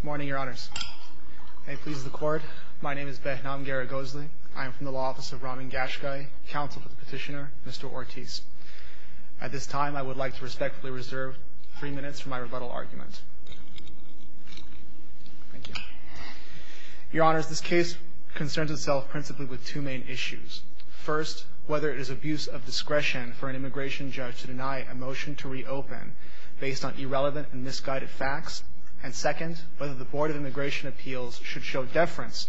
Good morning, Your Honors. May it please the Court, my name is Behnam Garagosly. I am from the Law Office of Ramin Gashgai, counsel for the petitioner, Mr. Ortiz. At this time, I would like to respectfully reserve three minutes for my rebuttal argument. Thank you. Your Honors, this case concerns itself principally with two main issues. First, whether it is abuse of discretion for an immigration judge to deny a motion to reopen based on irrelevant and misguided facts. And second, whether the Board of Immigration Appeals should show deference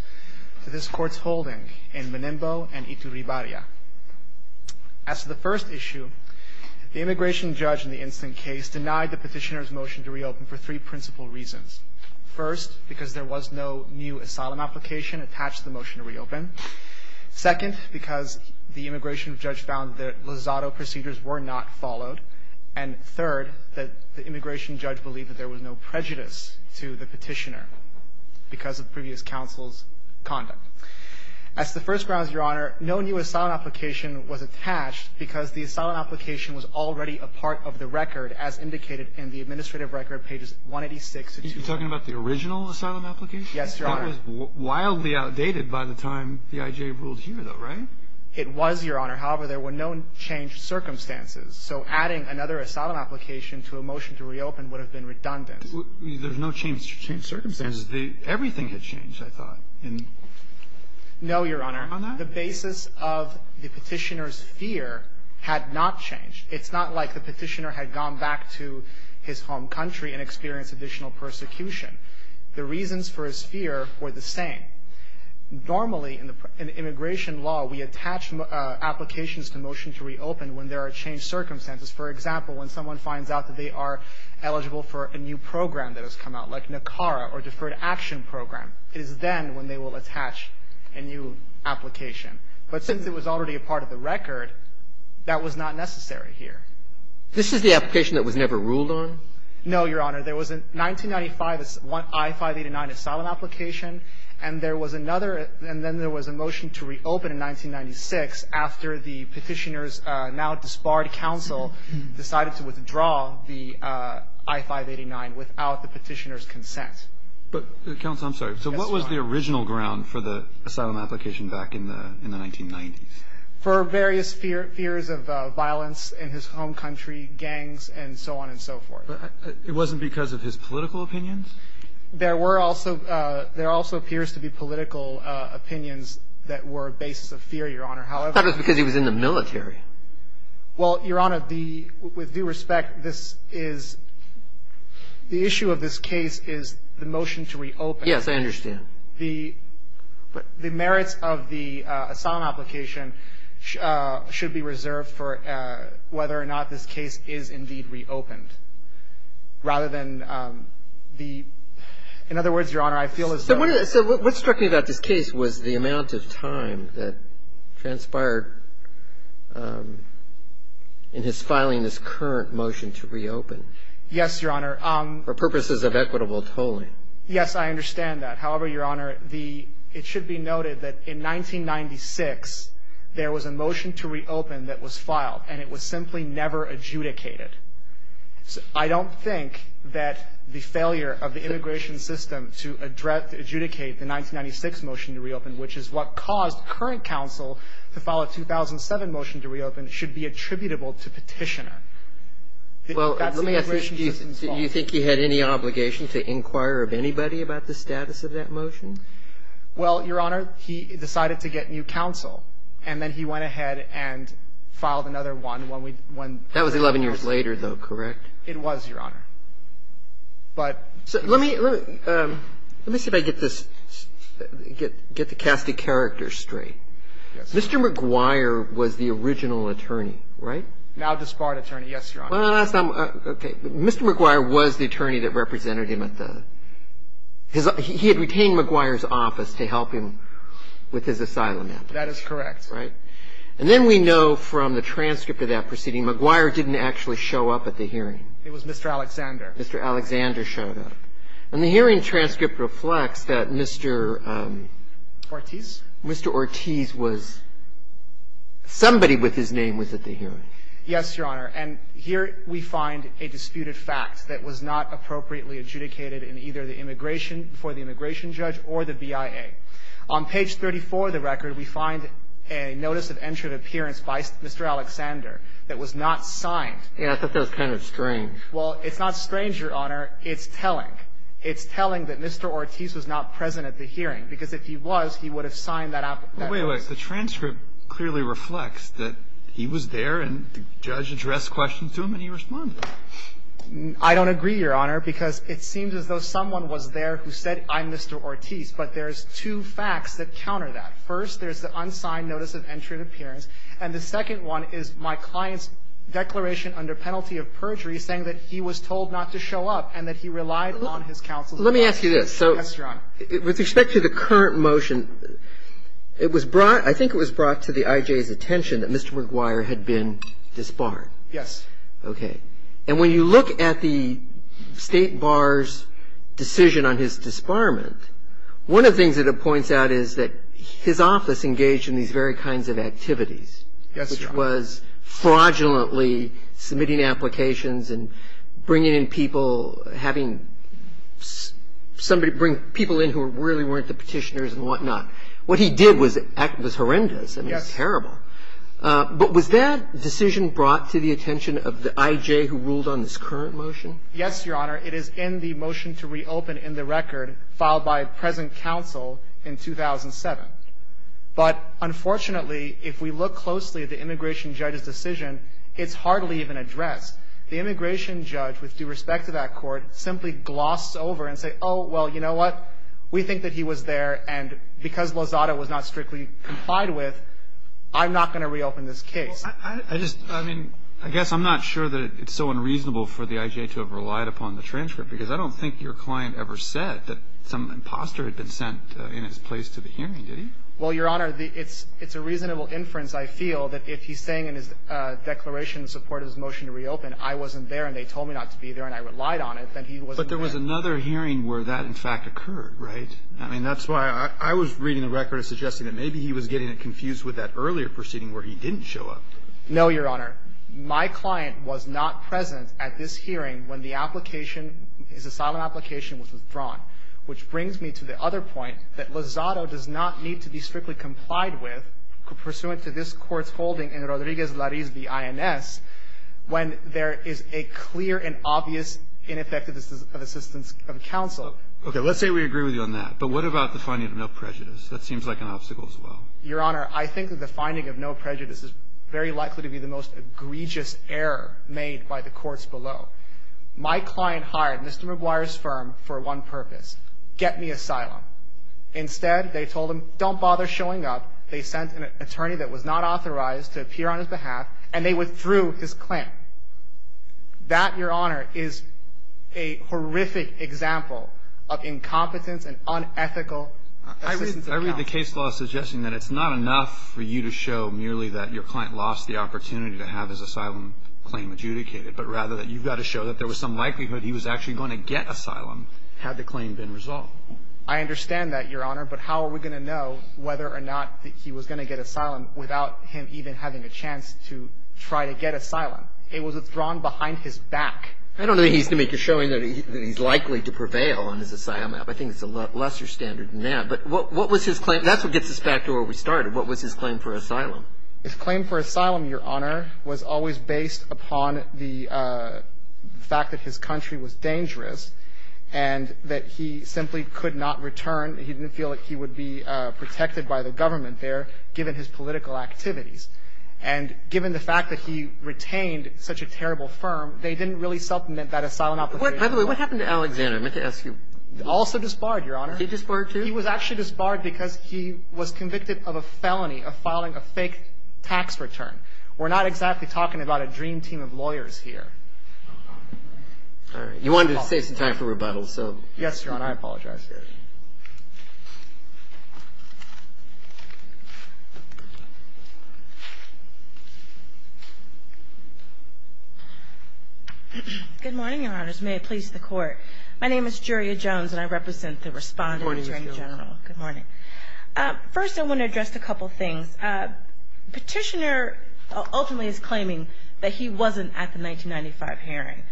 to this Court's holding in Menembo and Iturribarria. As to the first issue, the immigration judge in the incident case denied the petitioner's motion to reopen for three principal reasons. First, because there was no new asylum application attached to the motion to reopen. Second, because the immigration judge found that Lozado procedures were not followed. And third, that the immigration judge believed that there was no prejudice to the petitioner because of previous counsel's conduct. As to the first grounds, Your Honor, no new asylum application was attached because the asylum application was already a part of the record, as indicated in the administrative record, pages 186 to 21. You're talking about the original asylum application? Yes, Your Honor. That was wildly outdated by the time the I.J. ruled here, though, right? It was, Your Honor. However, there were no changed circumstances. So adding another asylum application to a motion to reopen would have been redundant. There's no change to change circumstances. Everything had changed, I thought. No, Your Honor. The basis of the petitioner's fear had not changed. It's not like the petitioner had gone back to his home country and experienced additional persecution. The reasons for his fear were the same. Normally, in immigration law, we attach applications to motions to reopen when there are changed circumstances. For example, when someone finds out that they are eligible for a new program that has come out, like NACARA or Deferred Action Program, it is then when they will attach a new application. But since it was already a part of the record, that was not necessary here. This is the application that was never ruled on? No, Your Honor. There was a 1995 I-589 asylum application, and then there was a motion to reopen in 1996 after the petitioner's now disbarred counsel decided to withdraw the I-589 without the petitioner's consent. Counsel, I'm sorry. Yes, Your Honor. So what was the original ground for the asylum application back in the 1990s? For various fears of violence in his home country, gangs, and so on and so forth. But it wasn't because of his political opinions? There were also – there also appears to be political opinions that were a basis of fear, Your Honor. That was because he was in the military. Well, Your Honor, the – with due respect, this is – the issue of this case is the motion to reopen. Yes, I understand. The merits of the asylum application should be reserved for whether or not this case is indeed reopened, rather than the – in other words, Your Honor, I feel as though – So what struck me about this case was the amount of time that transpired in his filing this current motion to reopen. Yes, Your Honor. For purposes of equitable tolling. Yes, I understand that. However, Your Honor, the – it should be noted that in 1996, there was a motion to reopen that was filed, and it was simply never adjudicated. I don't think that the failure of the immigration system to adjudicate the 1996 motion to reopen, which is what caused current counsel to file a 2007 motion to reopen, should be attributable to petitioner. That's the immigration system's fault. Do you think he had any obligation to inquire of anybody about the status of that motion? Well, Your Honor, he decided to get new counsel, and then he went ahead and filed another one when we – when – That was 11 years later, though, correct? It was, Your Honor. But – So let me – let me see if I get this – get the cast of characters straight. Yes. Mr. McGuire was the original attorney, right? Now disbarred attorney, yes, Your Honor. Well, last time – okay. Mr. McGuire was the attorney that represented him at the – his – he had retained McGuire's office to help him with his asylum application. That is correct. Right? And then we know from the transcript of that proceeding, McGuire didn't actually show up at the hearing. It was Mr. Alexander. Mr. Alexander showed up. And the hearing transcript reflects that Mr. – Ortiz. Mr. Ortiz was – somebody with his name was at the hearing. Yes, Your Honor. And here we find a disputed fact that was not appropriately adjudicated in either the immigration – before the immigration judge or the BIA. On page 34 of the record, we find a notice of entered appearance by Mr. Alexander that was not signed. Yeah. I thought that was kind of strange. Well, it's not strange, Your Honor. It's telling. It's telling that Mr. Ortiz was not present at the hearing, because if he was, he would have signed that – Well, wait, wait. The transcript clearly reflects that he was there, and the judge addressed questions to him, and he responded. I don't agree, Your Honor, because it seems as though someone was there who said, I'm Mr. Ortiz. But there's two facts that counter that. First, there's the unsigned notice of entered appearance, and the second one is my client's declaration under penalty of perjury saying that he was told not to show up and that he relied on his counsel's advice. Let me ask you this. Yes, Your Honor. With respect to the current motion, it was brought – I think it was brought to the IJ's attention that Mr. McGuire had been disbarred. Yes. Okay. And when you look at the State Bar's decision on his disbarment, one of the things that it points out is that his office engaged in these very kinds of activities. Yes, Your Honor. Which was fraudulently submitting applications and bringing in people, having somebody bring people in who really weren't the petitioners and whatnot. What he did was horrendous. Yes. I mean, terrible. But was that decision brought to the attention of the IJ who ruled on this current motion? Yes, Your Honor. It is in the motion to reopen in the record filed by present counsel in 2007. But unfortunately, if we look closely at the immigration judge's decision, it's hardly even addressed. The immigration judge, with due respect to that Court, simply glossed over and said, oh, well, you know what? We think that he was there. And because Lozada was not strictly complied with, I'm not going to reopen this case. I just, I mean, I guess I'm not sure that it's so unreasonable for the IJ to have relied upon the transcript, because I don't think your client ever said that some imposter had been sent in his place to the hearing, did he? Well, Your Honor, it's a reasonable inference, I feel, that if he's saying in his declaration in support of his motion to reopen, I wasn't there and they told me not to be there and I relied on it, then he wasn't there. But there was another hearing where that, in fact, occurred, right? I mean, that's why I was reading the record as suggesting that maybe he was getting confused with that earlier proceeding where he didn't show up. No, Your Honor. My client was not present at this hearing when the application, his asylum application was withdrawn, which brings me to the other point that Lozada does not need to be strictly complied with pursuant to this Court's holding in Rodriguez-Lariz v. INS when there is a clear and obvious ineffectiveness of assistance of counsel. Okay. Let's say we agree with you on that. But what about the finding of no prejudice? That seems like an obstacle as well. Your Honor, I think that the finding of no prejudice is very likely to be the most egregious error made by the courts below. My client hired Mr. Maguire's firm for one purpose, get me asylum. Instead, they told him, don't bother showing up. They sent an attorney that was not authorized to appear on his behalf, and they withdrew his claim. That, Your Honor, is a horrific example of incompetence and unethical assistance of counsel. I read the case law suggesting that it's not enough for you to show merely that your client lost the opportunity to have his asylum claim adjudicated, but rather that you've got to show that there was some likelihood he was actually going to get asylum had the claim been resolved. I understand that, Your Honor, but how are we going to know whether or not he was going to get asylum without him even having a chance to try to get asylum? It was a throne behind his back. I don't think he needs to make a showing that he's likely to prevail on his asylum app. I think it's a lesser standard than that. But what was his claim? That's what gets us back to where we started. What was his claim for asylum? His claim for asylum, Your Honor, was always based upon the fact that his country was dangerous and that he simply could not return. He didn't feel that he would be protected by the government there, given his political activities. And given the fact that he retained such a terrible firm, they didn't really supplement that asylum opportunity. By the way, what happened to Alexander? I meant to ask you. Also disbarred, Your Honor. He disbarred, too? He was actually disbarred because he was convicted of a felony of filing a fake tax return. We're not exactly talking about a dream team of lawyers here. All right. You wanted to save some time for rebuttal, so. Yes, Your Honor. And I apologize for that. Good morning, Your Honors. May it please the Court. My name is Juria Jones, and I represent the Respondent, the Attorney General. Good morning, Ms. Jones. Good morning. First, I want to address a couple of things. Petitioner ultimately is claiming that he wasn't at the 1995 hearing.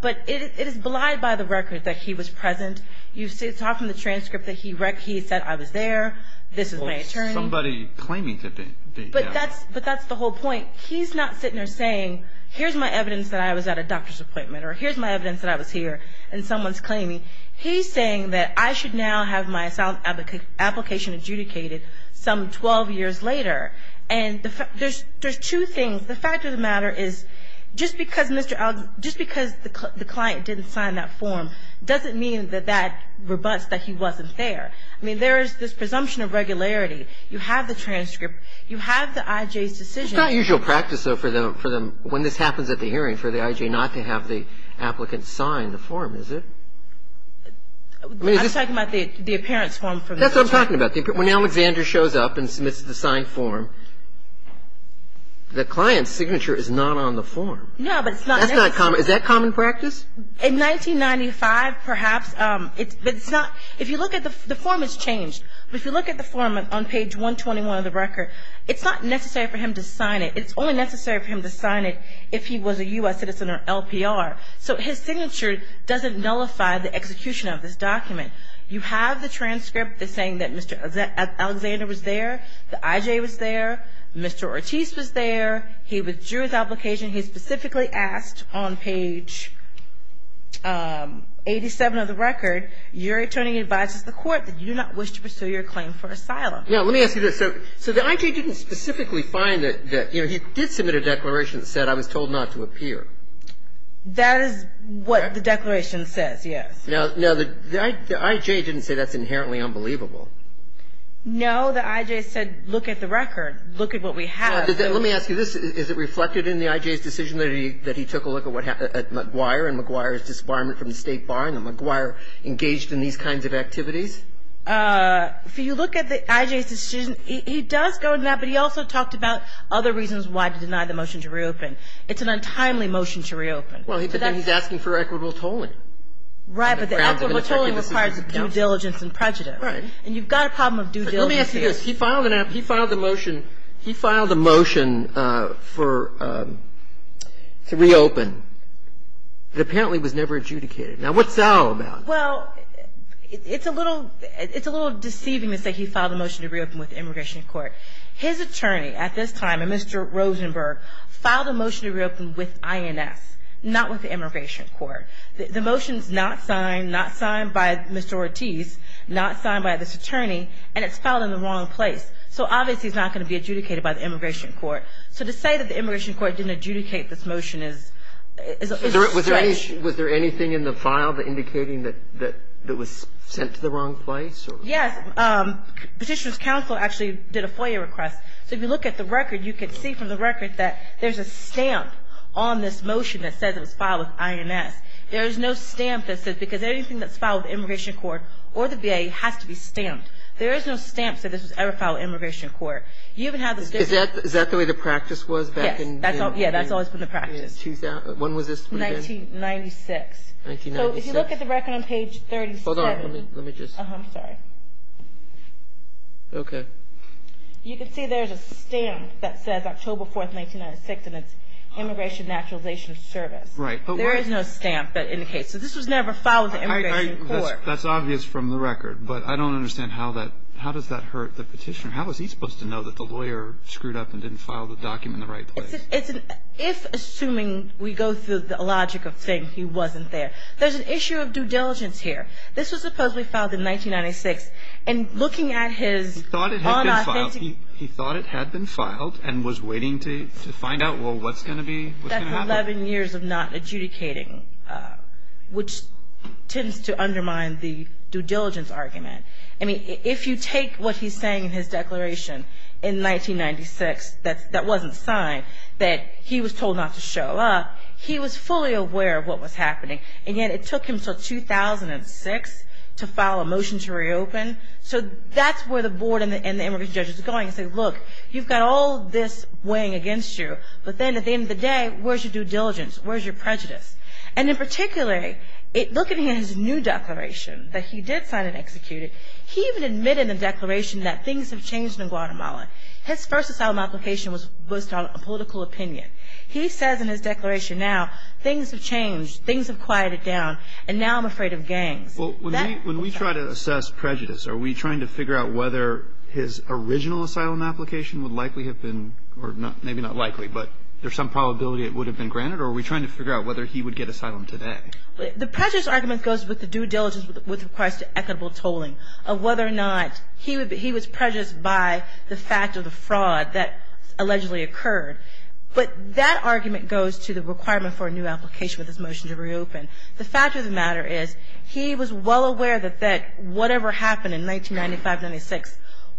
But it is belied by the record that he was present. You saw from the transcript that he said, I was there. This is my attorney. Somebody claiming to be. But that's the whole point. He's not sitting there saying, here's my evidence that I was at a doctor's appointment, or here's my evidence that I was here, and someone's claiming. He's saying that I should now have my asylum application adjudicated some 12 years later. And there's two things. The fact of the matter is, just because the client didn't sign that form doesn't mean that that rebuts that he wasn't there. I mean, there is this presumption of regularity. You have the transcript. You have the I.J.'s decision. It's not usual practice, though, for them, when this happens at the hearing, for the I.J. not to have the applicant sign the form, is it? I'm talking about the appearance form from the attorney. That's what I'm talking about. But when Alexander shows up and submits the signed form, the client's signature is not on the form. No, but it's not. That's not common. Is that common practice? In 1995, perhaps. But it's not. If you look at the form, it's changed. But if you look at the form on page 121 of the record, it's not necessary for him to sign it. It's only necessary for him to sign it if he was a U.S. citizen or LPR. So his signature doesn't nullify the execution of this document. You have the transcript that's saying that Mr. Alexander was there. The I.J. was there. Mr. Ortiz was there. He withdrew his application. He specifically asked on page 87 of the record, your attorney advises the court that you do not wish to pursue your claim for asylum. Now, let me ask you this. So the I.J. didn't specifically find that, you know, he did submit a declaration that said I was told not to appear. That is what the declaration says, yes. Now, the I.J. didn't say that's inherently unbelievable. No. The I.J. said look at the record. Look at what we have. Let me ask you this. Is it reflected in the I.J.'s decision that he took a look at what happened at McGuire and McGuire's disbarment from the State Bar and that McGuire engaged in these kinds of activities? If you look at the I.J.'s decision, he does go into that, but he also talked about other reasons why to deny the motion to reopen. It's an untimely motion to reopen. Well, then he's asking for equitable tolling. Right. But the equitable tolling requires due diligence and prejudice. Right. And you've got a problem of due diligence here. Let me ask you this. He filed a motion for to reopen. It apparently was never adjudicated. Now, what's that all about? Well, it's a little deceiving to say he filed a motion to reopen with immigration court. His attorney at this time, a Mr. Rosenberg, filed a motion to reopen with INS, not with the immigration court. The motion is not signed, not signed by Mr. Ortiz, not signed by this attorney, and it's filed in the wrong place. So obviously, it's not going to be adjudicated by the immigration court. So to say that the immigration court didn't adjudicate this motion is a stretch. Was there anything in the file indicating that it was sent to the wrong place? Yes. Petitioner's counsel actually did a FOIA request. So if you look at the record, you can see from the record that there's a stamp on this There is no stamp that says because anything that's filed with immigration court or the VA has to be stamped. There is no stamp that says this was ever filed with immigration court. Is that the way the practice was back in? Yes. That's always been the practice. When was this? 1996. So if you look at the record on page 37. Hold on. Let me just. I'm sorry. Okay. You can see there's a stamp that says October 4, 1996, and it's Immigration Naturalization Service. Right. There is no stamp that indicates. So this was never filed with the immigration court. That's obvious from the record, but I don't understand how that. How does that hurt the petitioner? How was he supposed to know that the lawyer screwed up and didn't file the document in the right place? If assuming we go through the logic of saying he wasn't there. There's an issue of due diligence here. This was supposedly filed in 1996, and looking at his. He thought it had been filed and was waiting to find out, well, what's going to be. That's 11 years of not adjudicating, which tends to undermine the due diligence argument. I mean, if you take what he's saying in his declaration in 1996 that wasn't signed, that he was told not to show up, he was fully aware of what was happening, and yet it took him until 2006 to file a motion to reopen. So that's where the board and the immigration judge is going to say, look, you've got all this weighing against you. But then at the end of the day, where's your due diligence? Where's your prejudice? And in particular, looking at his new declaration that he did sign and execute it, he even admitted in the declaration that things have changed in Guatemala. His first asylum application was based on a political opinion. He says in his declaration now, things have changed, things have quieted down, and now I'm afraid of gangs. Well, when we try to assess prejudice, are we trying to figure out whether his original asylum application would likely have been or maybe not likely, but there's some probability it would have been granted, or are we trying to figure out whether he would get asylum today? The prejudice argument goes with the due diligence with regards to equitable tolling, of whether or not he was prejudiced by the fact of the fraud that allegedly occurred. But that argument goes to the requirement for a new application with his motion to reopen. The fact of the matter is he was well aware that that whatever happened in 1995-96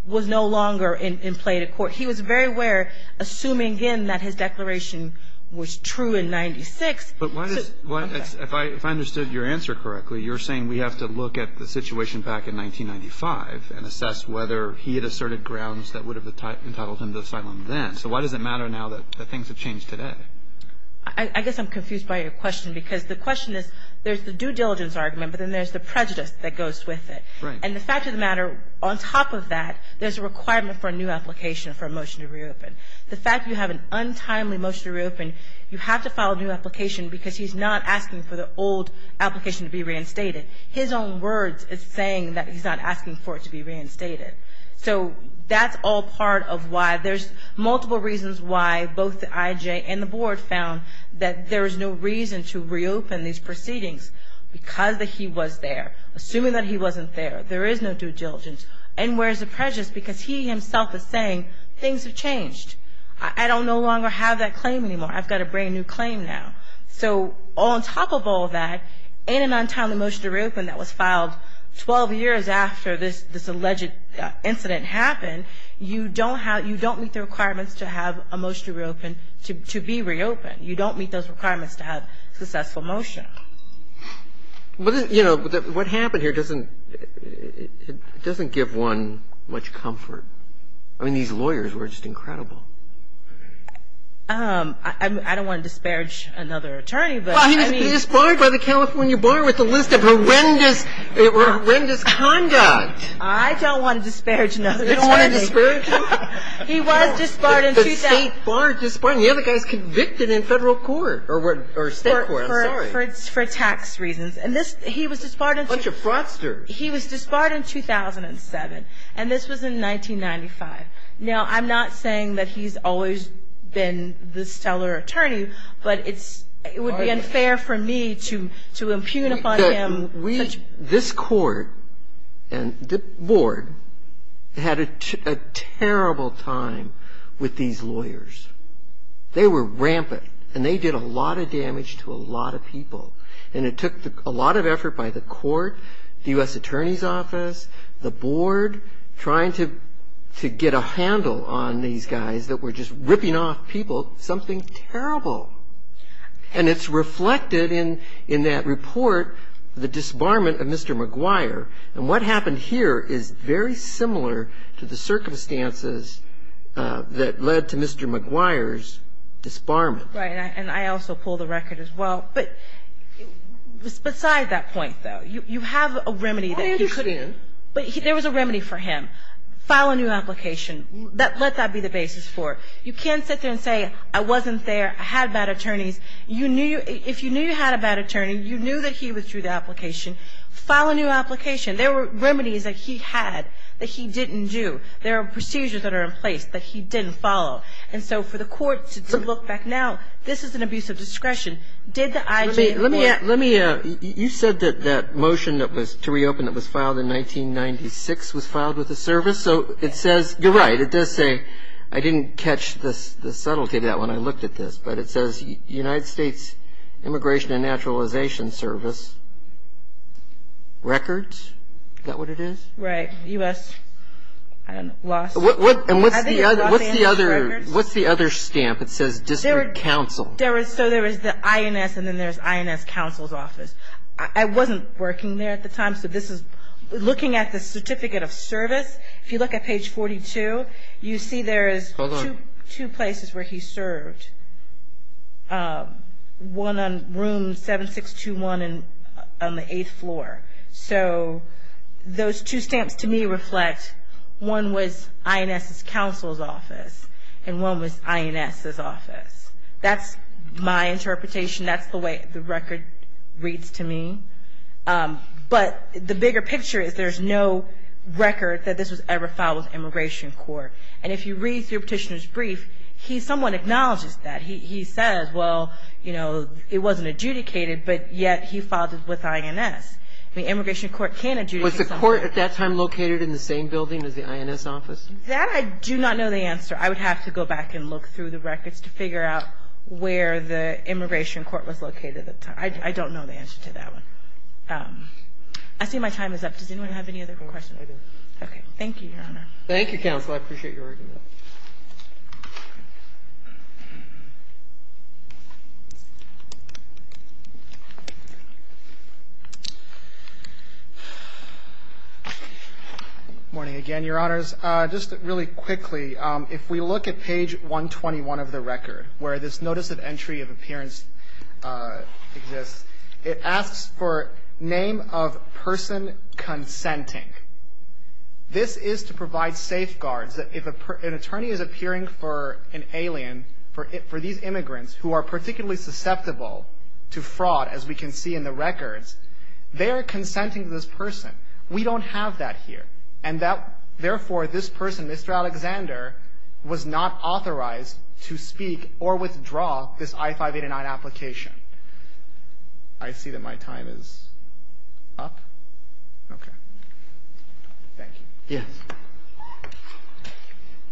was no longer in play at a court. He was very aware, assuming, again, that his declaration was true in 1996. But why does – if I understood your answer correctly, you're saying we have to look at the situation back in 1995 and assess whether he had asserted grounds that would have entitled him to asylum then. So why does it matter now that things have changed today? I guess I'm confused by your question because the question is there's the due diligence argument, but then there's the prejudice that goes with it. Right. And the fact of the matter, on top of that, there's a requirement for a new application for a motion to reopen. The fact you have an untimely motion to reopen, you have to file a new application because he's not asking for the old application to be reinstated. His own words is saying that he's not asking for it to be reinstated. So that's all part of why there's multiple reasons why both the IJ and the board found that there is no reason to reopen these proceedings because he was there. Assuming that he wasn't there, there is no due diligence. And where's the prejudice? Because he himself is saying things have changed. I don't no longer have that claim anymore. I've got a brand-new claim now. So on top of all that, in an untimely motion to reopen that was filed 12 years after this alleged incident happened, you don't have – you don't meet the requirements to have a motion to reopen – to be reopened. You don't meet those requirements to have a successful motion. But, you know, what happened here doesn't – it doesn't give one much comfort. I mean, these lawyers were just incredible. I don't want to disparage another attorney, but I mean – Well, he was disbarred by the California bar with a list of horrendous – horrendous conduct. I don't want to disparage another attorney. You don't want to disparage him? He was disbarred in – The state bar disbarred him. The other guy's convicted in federal court or state court. I'm sorry. For tax reasons. And this – he was disbarred in – Bunch of fraudsters. He was disbarred in 2007, and this was in 1995. Now, I'm not saying that he's always been the stellar attorney, but it's – it would be unfair for me to impugn upon him – Look, we – this court and the board had a terrible time with these lawyers. They were rampant, and they did a lot of damage to a lot of people. And it took a lot of effort by the court, the U.S. Attorney's Office, the board, trying to get a handle on these guys that were just ripping off people. Something terrible. And it's reflected in that report, the disbarment of Mr. McGuire. And what happened here is very similar to the circumstances that led to Mr. McGuire's disbarment. Right. And I also pull the record as well. But beside that point, though, you have a remedy that he – Why didn't you put in? But there was a remedy for him. File a new application. Let that be the basis for it. You can't sit there and say, I wasn't there. I had bad attorneys. You knew – if you knew you had a bad attorney, you knew that he withdrew the application. File a new application. There were remedies that he had that he didn't do. There are procedures that are in place that he didn't follow. And so for the court to look back now, this is an abuse of discretion. Did the IG report – Let me – you said that that motion to reopen that was filed in 1996 was filed with the service. So it says – you're right. It does say – I didn't catch the subtlety of that when I looked at this. But it says United States Immigration and Naturalization Service. Records? Is that what it is? Right. U.S. – I don't know. Los Angeles Records? And what's the other – what's the other stamp? It says District Counsel. There was – so there was the INS, and then there's INS Counsel's Office. I wasn't working there at the time, so this is – looking at the Certificate of Service, if you look at page 42, you see there is two places where he served, one on room 7621 on the eighth floor. So those two stamps to me reflect one was INS's Counsel's Office and one was INS's Office. That's my interpretation. That's the way the record reads to me. But the bigger picture is there's no record that this was ever filed with Immigration Court. And if you read through Petitioner's brief, he somewhat acknowledges that. He says, well, you know, it wasn't adjudicated, but yet he filed it with INS. I mean, Immigration Court can't adjudicate something like that. Was the court at that time located in the same building as the INS office? That I do not know the answer. I would have to go back and look through the records to figure out where the Immigration Court was located at the time. I don't know the answer to that one. I see my time is up. Does anyone have any other questions? Okay. Thank you, Your Honor. Thank you, Counsel. I appreciate your argument. Good morning again, Your Honors. Just really quickly, if we look at page 121 of the record where this notice of entry of appearance exists, it asks for name of person consenting. This is to provide safeguards that if an attorney is appearing for an alien, for these immigrants who are particularly susceptible to fraud, as we can see in the records, they are consenting to this person. We don't have that here. And therefore, this person, Mr. Alexander, was not authorized to speak or withdraw this I-589 application. I see that my time is up. Okay. Thank you. Yes.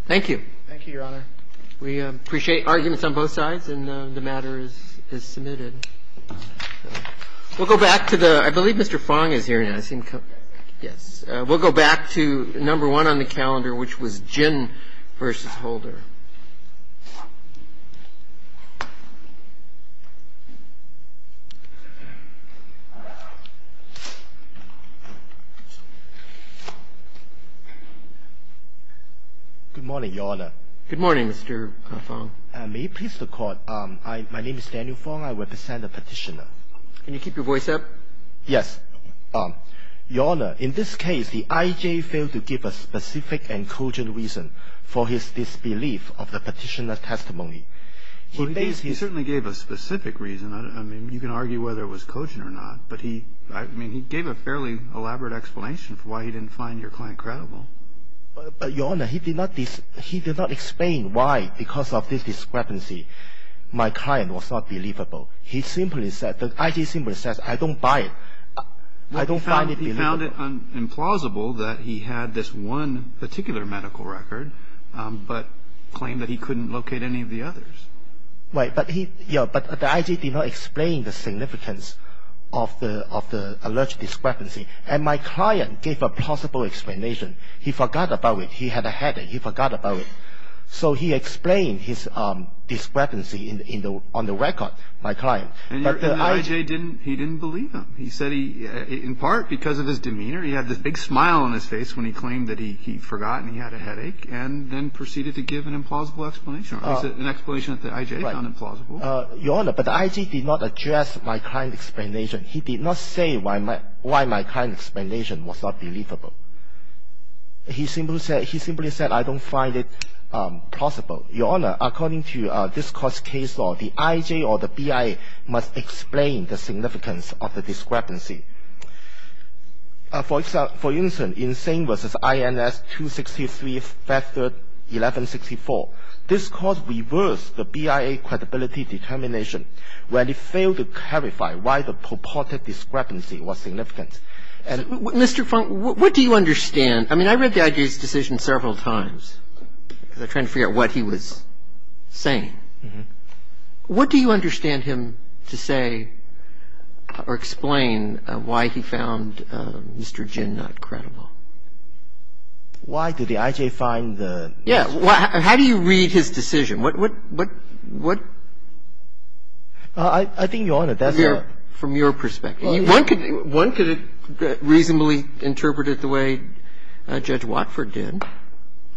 Thank you. Thank you, Your Honor. We appreciate arguments on both sides, and the matter is submitted. We'll go back to the – I believe Mr. Fong is here. Yes. Yes. We'll go back to number one on the calendar, which was Gin v. Holder. Good morning, Your Honor. Good morning, Mr. Fong. May it please the Court, my name is Daniel Fong. I represent the Petitioner. Can you keep your voice up? Yes. Your Honor, in this case, the I.J. failed to give a specific and cogent reason for his disbelief of the Petitioner's testimony. Well, he certainly gave a specific reason. I mean, you can argue whether it was cogent or not, but he – I mean, he gave a fairly elaborate explanation for why he didn't find your client credible. But, Your Honor, he did not – he did not explain why, because of this discrepancy, my client was not believable. He simply said – the I.J. simply says, I don't buy it. I don't find it believable. Well, he found it implausible that he had this one particular medical record, but claimed that he couldn't locate any of the others. Right. But he – yeah, but the I.J. did not explain the significance of the alleged discrepancy. And my client gave a plausible explanation. He forgot about it. He had a headache. He forgot about it. So he explained his discrepancy in the – on the record, my client. But the I.J. didn't – he didn't believe him. He said he – in part because of his demeanor, he had this big smile on his face when he claimed that he forgot and he had a headache, and then proceeded to give an implausible explanation. He said an explanation that the I.J. found implausible. Right. Your Honor, but the I.J. did not address my client's explanation. He did not say why my – why my client's explanation was not believable. He simply said – he simply said, I don't find it plausible. Your Honor, according to this Court's case law, the I.J. or the BIA must explain the significance of the discrepancy. For instance, in Singh v. INS 263, factor 1164, this Court reversed the BIA credibility determination when it failed to clarify why the purported discrepancy was significant. And – Mr. Feng, what do you understand – I mean, I read the I.J.'s decision several times because I'm trying to figure out what he was saying. What do you understand him to say or explain why he found Mr. Jin not credible? Why did the I.J. find the – Yeah. How do you read his decision? What – what – what – I think, Your Honor, that's a – From your perspective. One could reasonably interpret it the way Judge Watford did.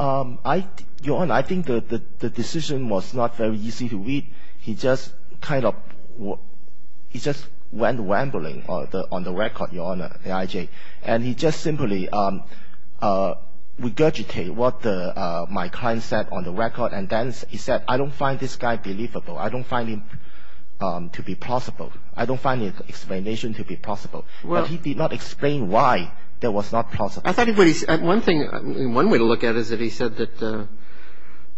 Your Honor, I think the decision was not very easy to read. He just kind of – he just went rambling on the record, Your Honor, the I.J. And he just simply regurgitated what my client said on the record, and then he said, I don't find this guy believable. I don't find him to be plausible. I don't find the explanation to be plausible. But he did not explain why that was not plausible. I thought he – one thing – one way to look at it is that he said that –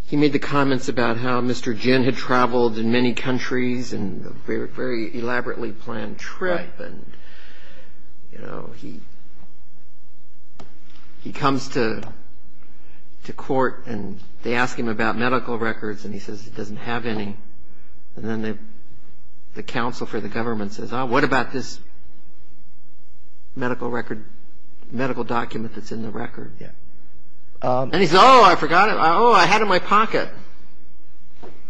he made the comments about how Mr. Jin had traveled in many countries and a very elaborately planned trip, and, you know, he comes to court and they ask him about medical records, and he says he doesn't have any. And then the counsel for the government says, What about this medical record – medical document that's in the record? And he says, oh, I forgot it. Oh, I had it in my pocket.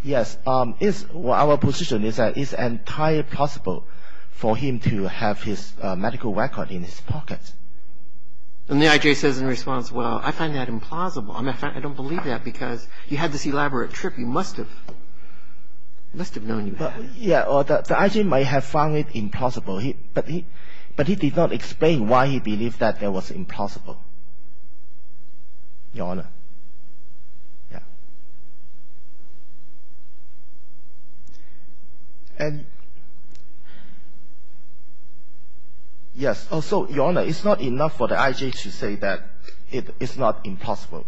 Yes. It's – our position is that it's entirely possible for him to have his medical record in his pocket. And the I.J. says in response, well, I find that implausible. I don't believe that because you had this elaborate trip. You must have – you must have known you had it. But, yeah, the I.J. might have found it implausible, but he did not explain why he believed that that was implausible, Your Honor. Yeah. And – yes, also, Your Honor, it's not enough for the I.J. to say that it is not implausible.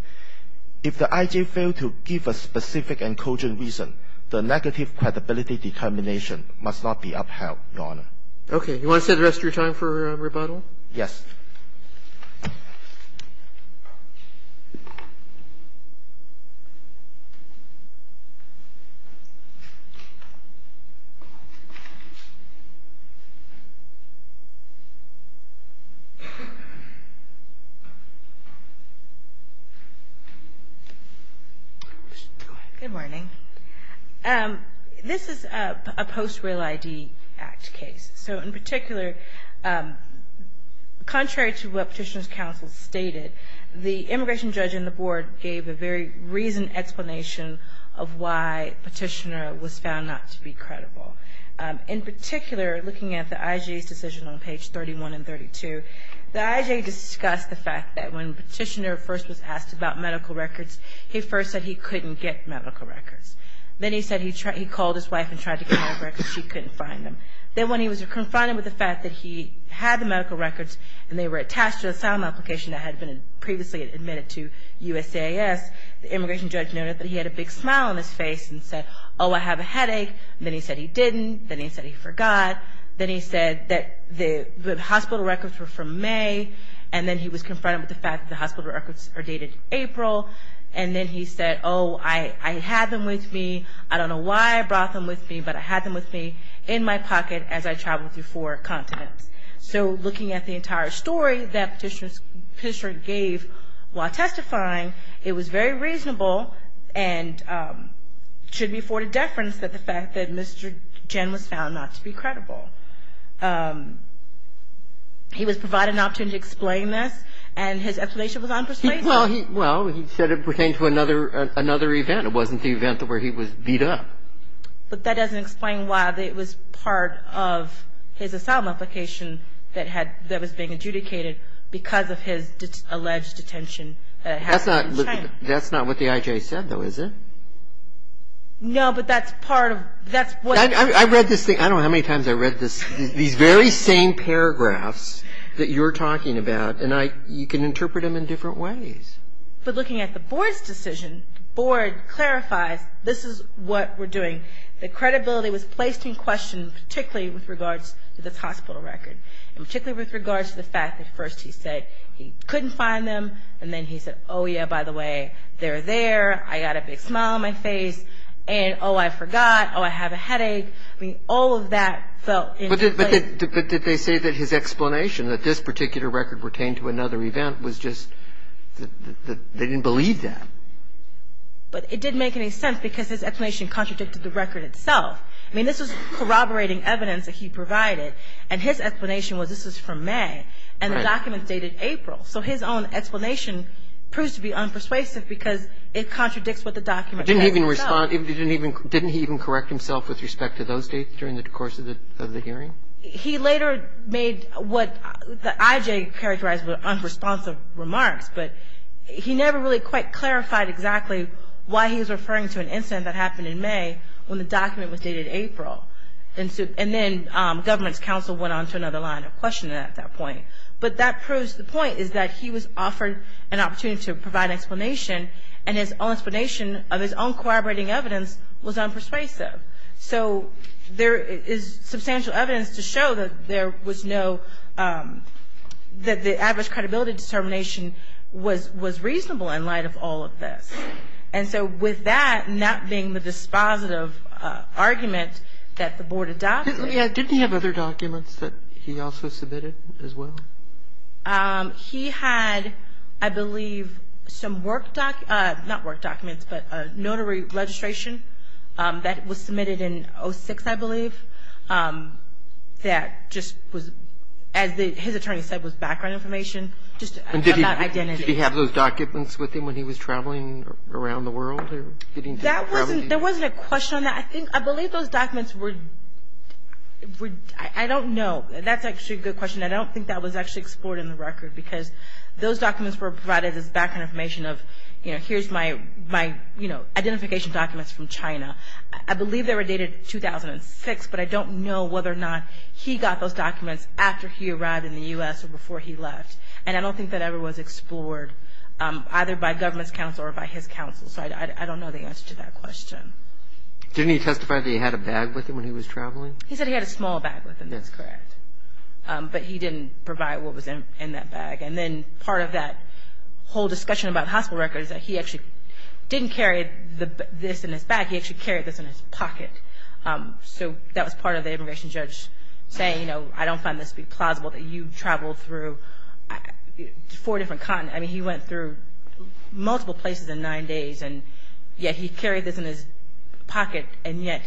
If the I.J. failed to give a specific and cogent reason, the negative credibility determination must not be upheld, Your Honor. Okay. You want to stay the rest of your time for rebuttal? Yes. Good morning. This is a post-Real ID Act case. So, in particular, contrary to what Petitioner's counsel stated, the immigration judge and the board gave a very reasoned explanation of why Petitioner was found not to be credible. In particular, looking at the I.J.'s decision on page 31 and 32, the I.J. discussed the fact that when Petitioner first was asked about medical records, he first said he couldn't get medical records. Then he said he called his wife and tried to get medical records. She couldn't find them. Then when he was confronted with the fact that he had the medical records and they were attached to the asylum application that had been previously admitted to USAS, the immigration judge noted that he had a big smile on his face and said, oh, I have a headache. Then he said he didn't. Then he said he forgot. Then he said that the hospital records were from May. And then he was confronted with the fact that the hospital records are dated April. And then he said, oh, I had them with me. I don't know why I brought them with me, but I had them with me in my pocket as I traveled through four continents. So looking at the entire story that Petitioner gave while testifying, it was very reasonable and should be afforded deference that the fact that Mr. Jen was found not to be credible. He was provided an opportunity to explain this, and his explanation was unpersuasive. Well, he said it pertained to another event. It wasn't the event where he was beat up. But that doesn't explain why it was part of his asylum application that was being adjudicated because of his alleged detention that happened in China. That's not what the IJ said, though, is it? No, but that's part of the question. I've read this thing. I don't know how many times I've read these very same paragraphs that you're talking about, and you can interpret them in different ways. But looking at the Board's decision, the Board clarifies this is what we're doing. The credibility was placed in question, particularly with regards to this hospital record, and particularly with regards to the fact that first he said he couldn't find them, and then he said, oh, yeah, by the way, they're there. I got a big smile on my face. And, oh, I forgot. Oh, I have a headache. I mean, all of that felt in place. But did they say that his explanation, that this particular record pertained to another event, was just that they didn't believe that? But it didn't make any sense because his explanation contradicted the record itself. I mean, this was corroborating evidence that he provided. And his explanation was this was from May, and the document dated April. So his own explanation proves to be unpersuasive because it contradicts what the document says itself. Didn't he even correct himself with respect to those dates during the course of the hearing? He later made what the IJ characterized were unresponsive remarks, but he never really quite clarified exactly why he was referring to an incident that happened in May when the document was dated April. And then government's counsel went on to another line of questioning at that point. But that proves the point is that he was offered an opportunity to provide an explanation, and his own explanation of his own corroborating evidence was unpersuasive. So there is substantial evidence to show that there was no, that the average credibility determination was reasonable in light of all of this. And so with that not being the dispositive argument that the board adopted. Didn't he have other documents that he also submitted as well? He had, I believe, some work documents, not work documents, but a notary registration that was submitted in 06, I believe, that just was, as his attorney said, was background information just about identity. Did he have those documents with him when he was traveling around the world? There wasn't a question on that. I believe those documents were, I don't know. That's actually a good question. I don't think that was actually explored in the record because those documents were provided as background information of, you know, here's my, you know, identification documents from China. I believe they were dated 2006, but I don't know whether or not he got those documents after he arrived in the U.S. or before he left. And I don't think that ever was explored either by government's counsel or by his counsel. So I don't know the answer to that question. Didn't he testify that he had a bag with him when he was traveling? He said he had a small bag with him. That's correct. But he didn't provide what was in that bag. And then part of that whole discussion about hospital records is that he actually didn't carry this in his bag. He actually carried this in his pocket. So that was part of the immigration judge saying, you know, four different continents. I mean, he went through multiple places in nine days, and yet he carried this in his pocket, and yet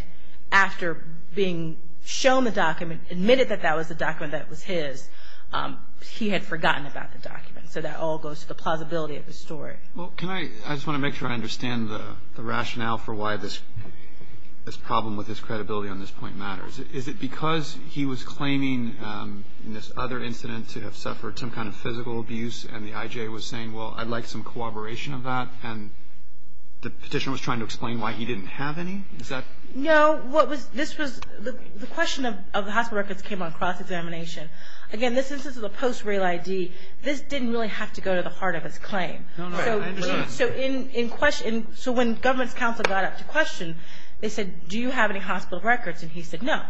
after being shown the document, admitted that that was the document that was his, he had forgotten about the document. So that all goes to the plausibility of the story. Well, can I, I just want to make sure I understand the rationale for why this problem with his credibility on this point matters. Is it because he was claiming in this other incident to have suffered some kind of physical abuse, and the IJ was saying, well, I'd like some corroboration of that, and the petitioner was trying to explain why he didn't have any? Is that? No. What was, this was, the question of the hospital records came on cross-examination. Again, this instance is a post-real ID. This didn't really have to go to the heart of his claim. No, no, I understand. So in question, so when government's counsel got up to question, they said, do you have any hospital records? And he said, no.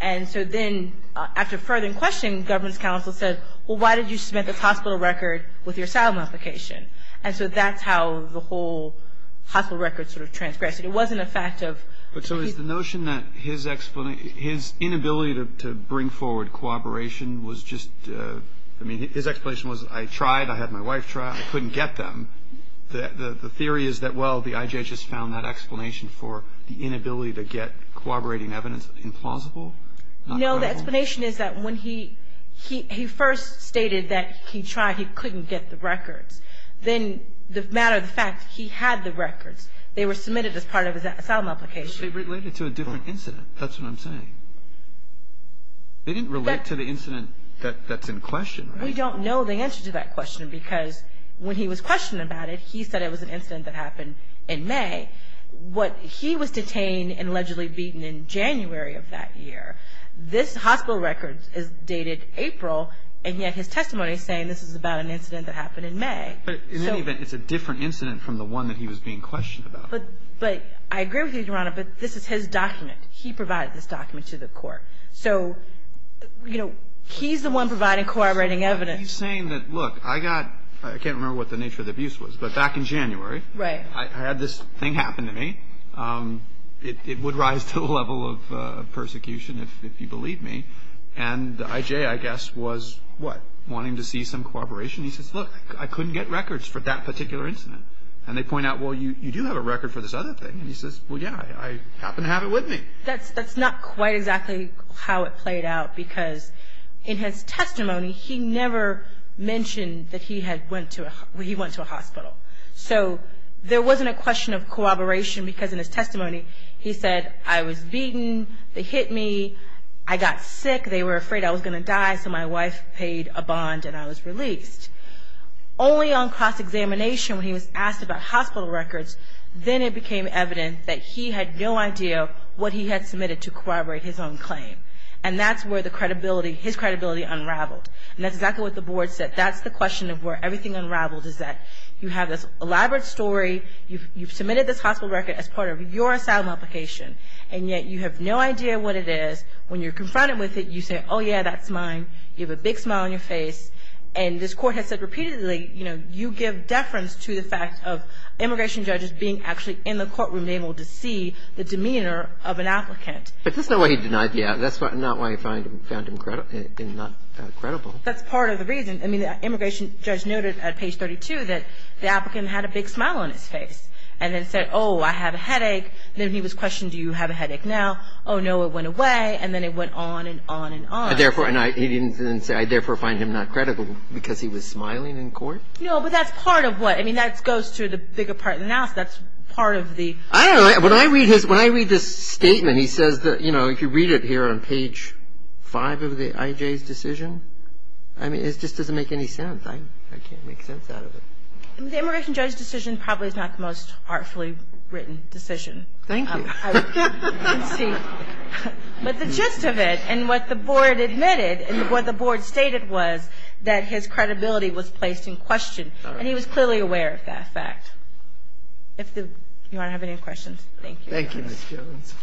And so then after further questioning, government's counsel said, well, why did you submit this hospital record with your asylum application? And so that's how the whole hospital record sort of transgressed. It wasn't a fact of. But so is the notion that his inability to bring forward cooperation was just, I mean, his explanation was, I tried, I had my wife try, I couldn't get them. The theory is that, well, the IJ just found that explanation for the inability to get cooperating evidence implausible? No, the explanation is that when he first stated that he tried, he couldn't get the records. Then the matter of the fact, he had the records. They were submitted as part of his asylum application. But they related to a different incident. That's what I'm saying. They didn't relate to the incident that's in question, right? We don't know the answer to that question because when he was questioned about it, he said it was an incident that happened in May. He was detained and allegedly beaten in January of that year. This hospital record is dated April, and yet his testimony is saying this is about an incident that happened in May. But in any event, it's a different incident from the one that he was being questioned about. But I agree with you, Your Honor, but this is his document. He provided this document to the court. He's the one providing cooperating evidence. He's saying that, look, I can't remember what the nature of the abuse was, but back in January, I had this thing happen to me. It would rise to the level of persecution if you believe me. And I.J., I guess, was wanting to see some cooperation. He says, look, I couldn't get records for that particular incident. And they point out, well, you do have a record for this other thing. And he says, well, yeah, I happen to have it with me. That's not quite exactly how it played out because in his testimony, he never mentioned that he went to a hospital. So there wasn't a question of cooperation because in his testimony, he said, I was beaten, they hit me, I got sick, they were afraid I was going to die, so my wife paid a bond and I was released. Only on cross-examination when he was asked about hospital records, then it became evident that he had no idea what he had submitted to corroborate his own claim. And that's where the credibility, his credibility unraveled. And that's exactly what the board said. That's the question of where everything unraveled is that you have this elaborate story, you've submitted this hospital record as part of your asylum application, and yet you have no idea what it is. When you're confronted with it, you say, oh, yeah, that's mine. You have a big smile on your face. And this court has said repeatedly, you know, immigration judges being actually in the courtroom able to see the demeanor of an applicant. But that's not why he denied it. Yeah, that's not why he found him not credible. That's part of the reason. I mean, the immigration judge noted at page 32 that the applicant had a big smile on his face and then said, oh, I have a headache. Then he was questioned, do you have a headache now? Oh, no, it went away. And then it went on and on and on. And therefore, he didn't say, I therefore find him not credible because he was smiling in court? No, but that's part of what. I mean, that goes to the bigger part of the analysis. That's part of the. I don't know. When I read this statement, he says that, you know, if you read it here on page 5 of the IJ's decision, I mean, it just doesn't make any sense. I can't make sense out of it. The immigration judge's decision probably is not the most artfully written decision. Thank you. But the gist of it and what the board admitted and what the board stated was that his credibility was placed in question. And he was clearly aware of that fact. If you want to have any questions, thank you. Thank you, Ms. Jones.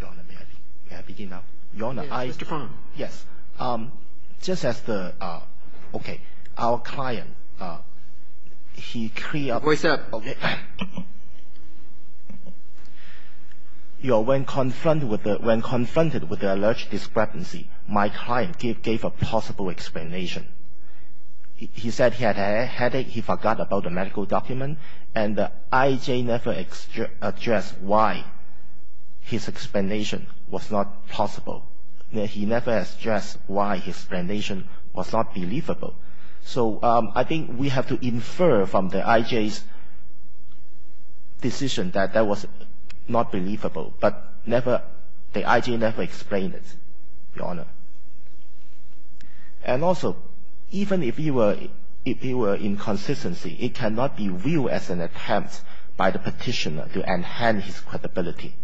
Your Honor, may I begin now? Your Honor, I. Mr. Fang. Yes. Just as the. Okay. Our client. He. Okay. When confronted with the alleged discrepancy, my client gave a possible explanation. He said he had a headache. He forgot about the medical document. And the IJ never addressed why his explanation was not possible. He never addressed why his explanation was not believable. So I think we have to infer from the IJ's decision that that was not believable. But the IJ never explained it, Your Honor. And also, even if he were in consistency, it cannot be viewed as an attempt by the petitioner to enhance his credibility.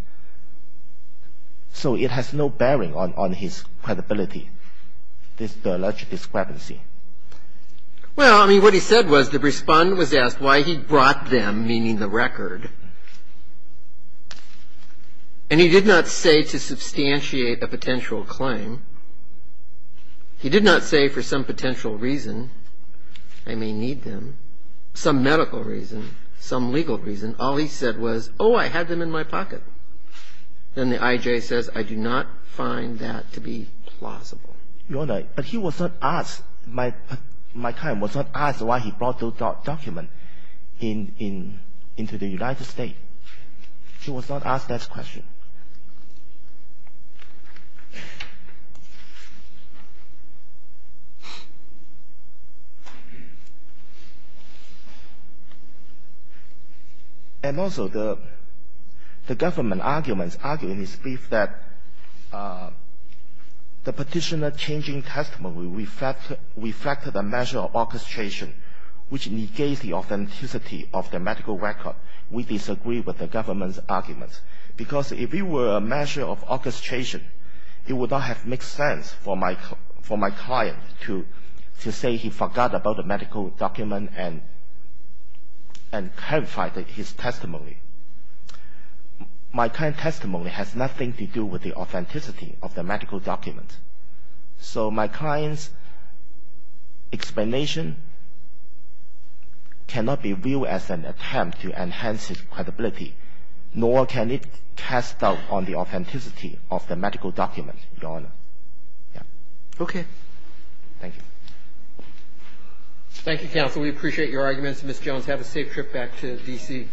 So it has no bearing on his credibility, this alleged discrepancy. Well, I mean, what he said was the respondent was asked why he brought them, meaning the record. And he did not say to substantiate a potential claim. He did not say for some potential reason, I may need them, some medical reason, some legal reason. All he said was, oh, I had them in my pocket. And the IJ says, I do not find that to be plausible. Your Honor, but he was not asked, my client was not asked why he brought those documents into the United States. He was not asked that question. And also, the government arguments argue in his brief that the petitioner changing testimony reflected a measure of orchestration which negates the authenticity of the medical record. We disagree with the government's arguments. Because if it were a measure of orchestration, it would not have made sense for my client to say he forgot about the medical document and clarified his testimony. My client's testimony has nothing to do with the authenticity of the medical document. So my client's explanation cannot be viewed as an attempt to enhance his credibility, nor can it cast doubt on the authenticity of the medical document, Your Honor. Okay. Thank you. Thank you, counsel. We appreciate your arguments. Ms. Jones, have a safe trip back to D.C.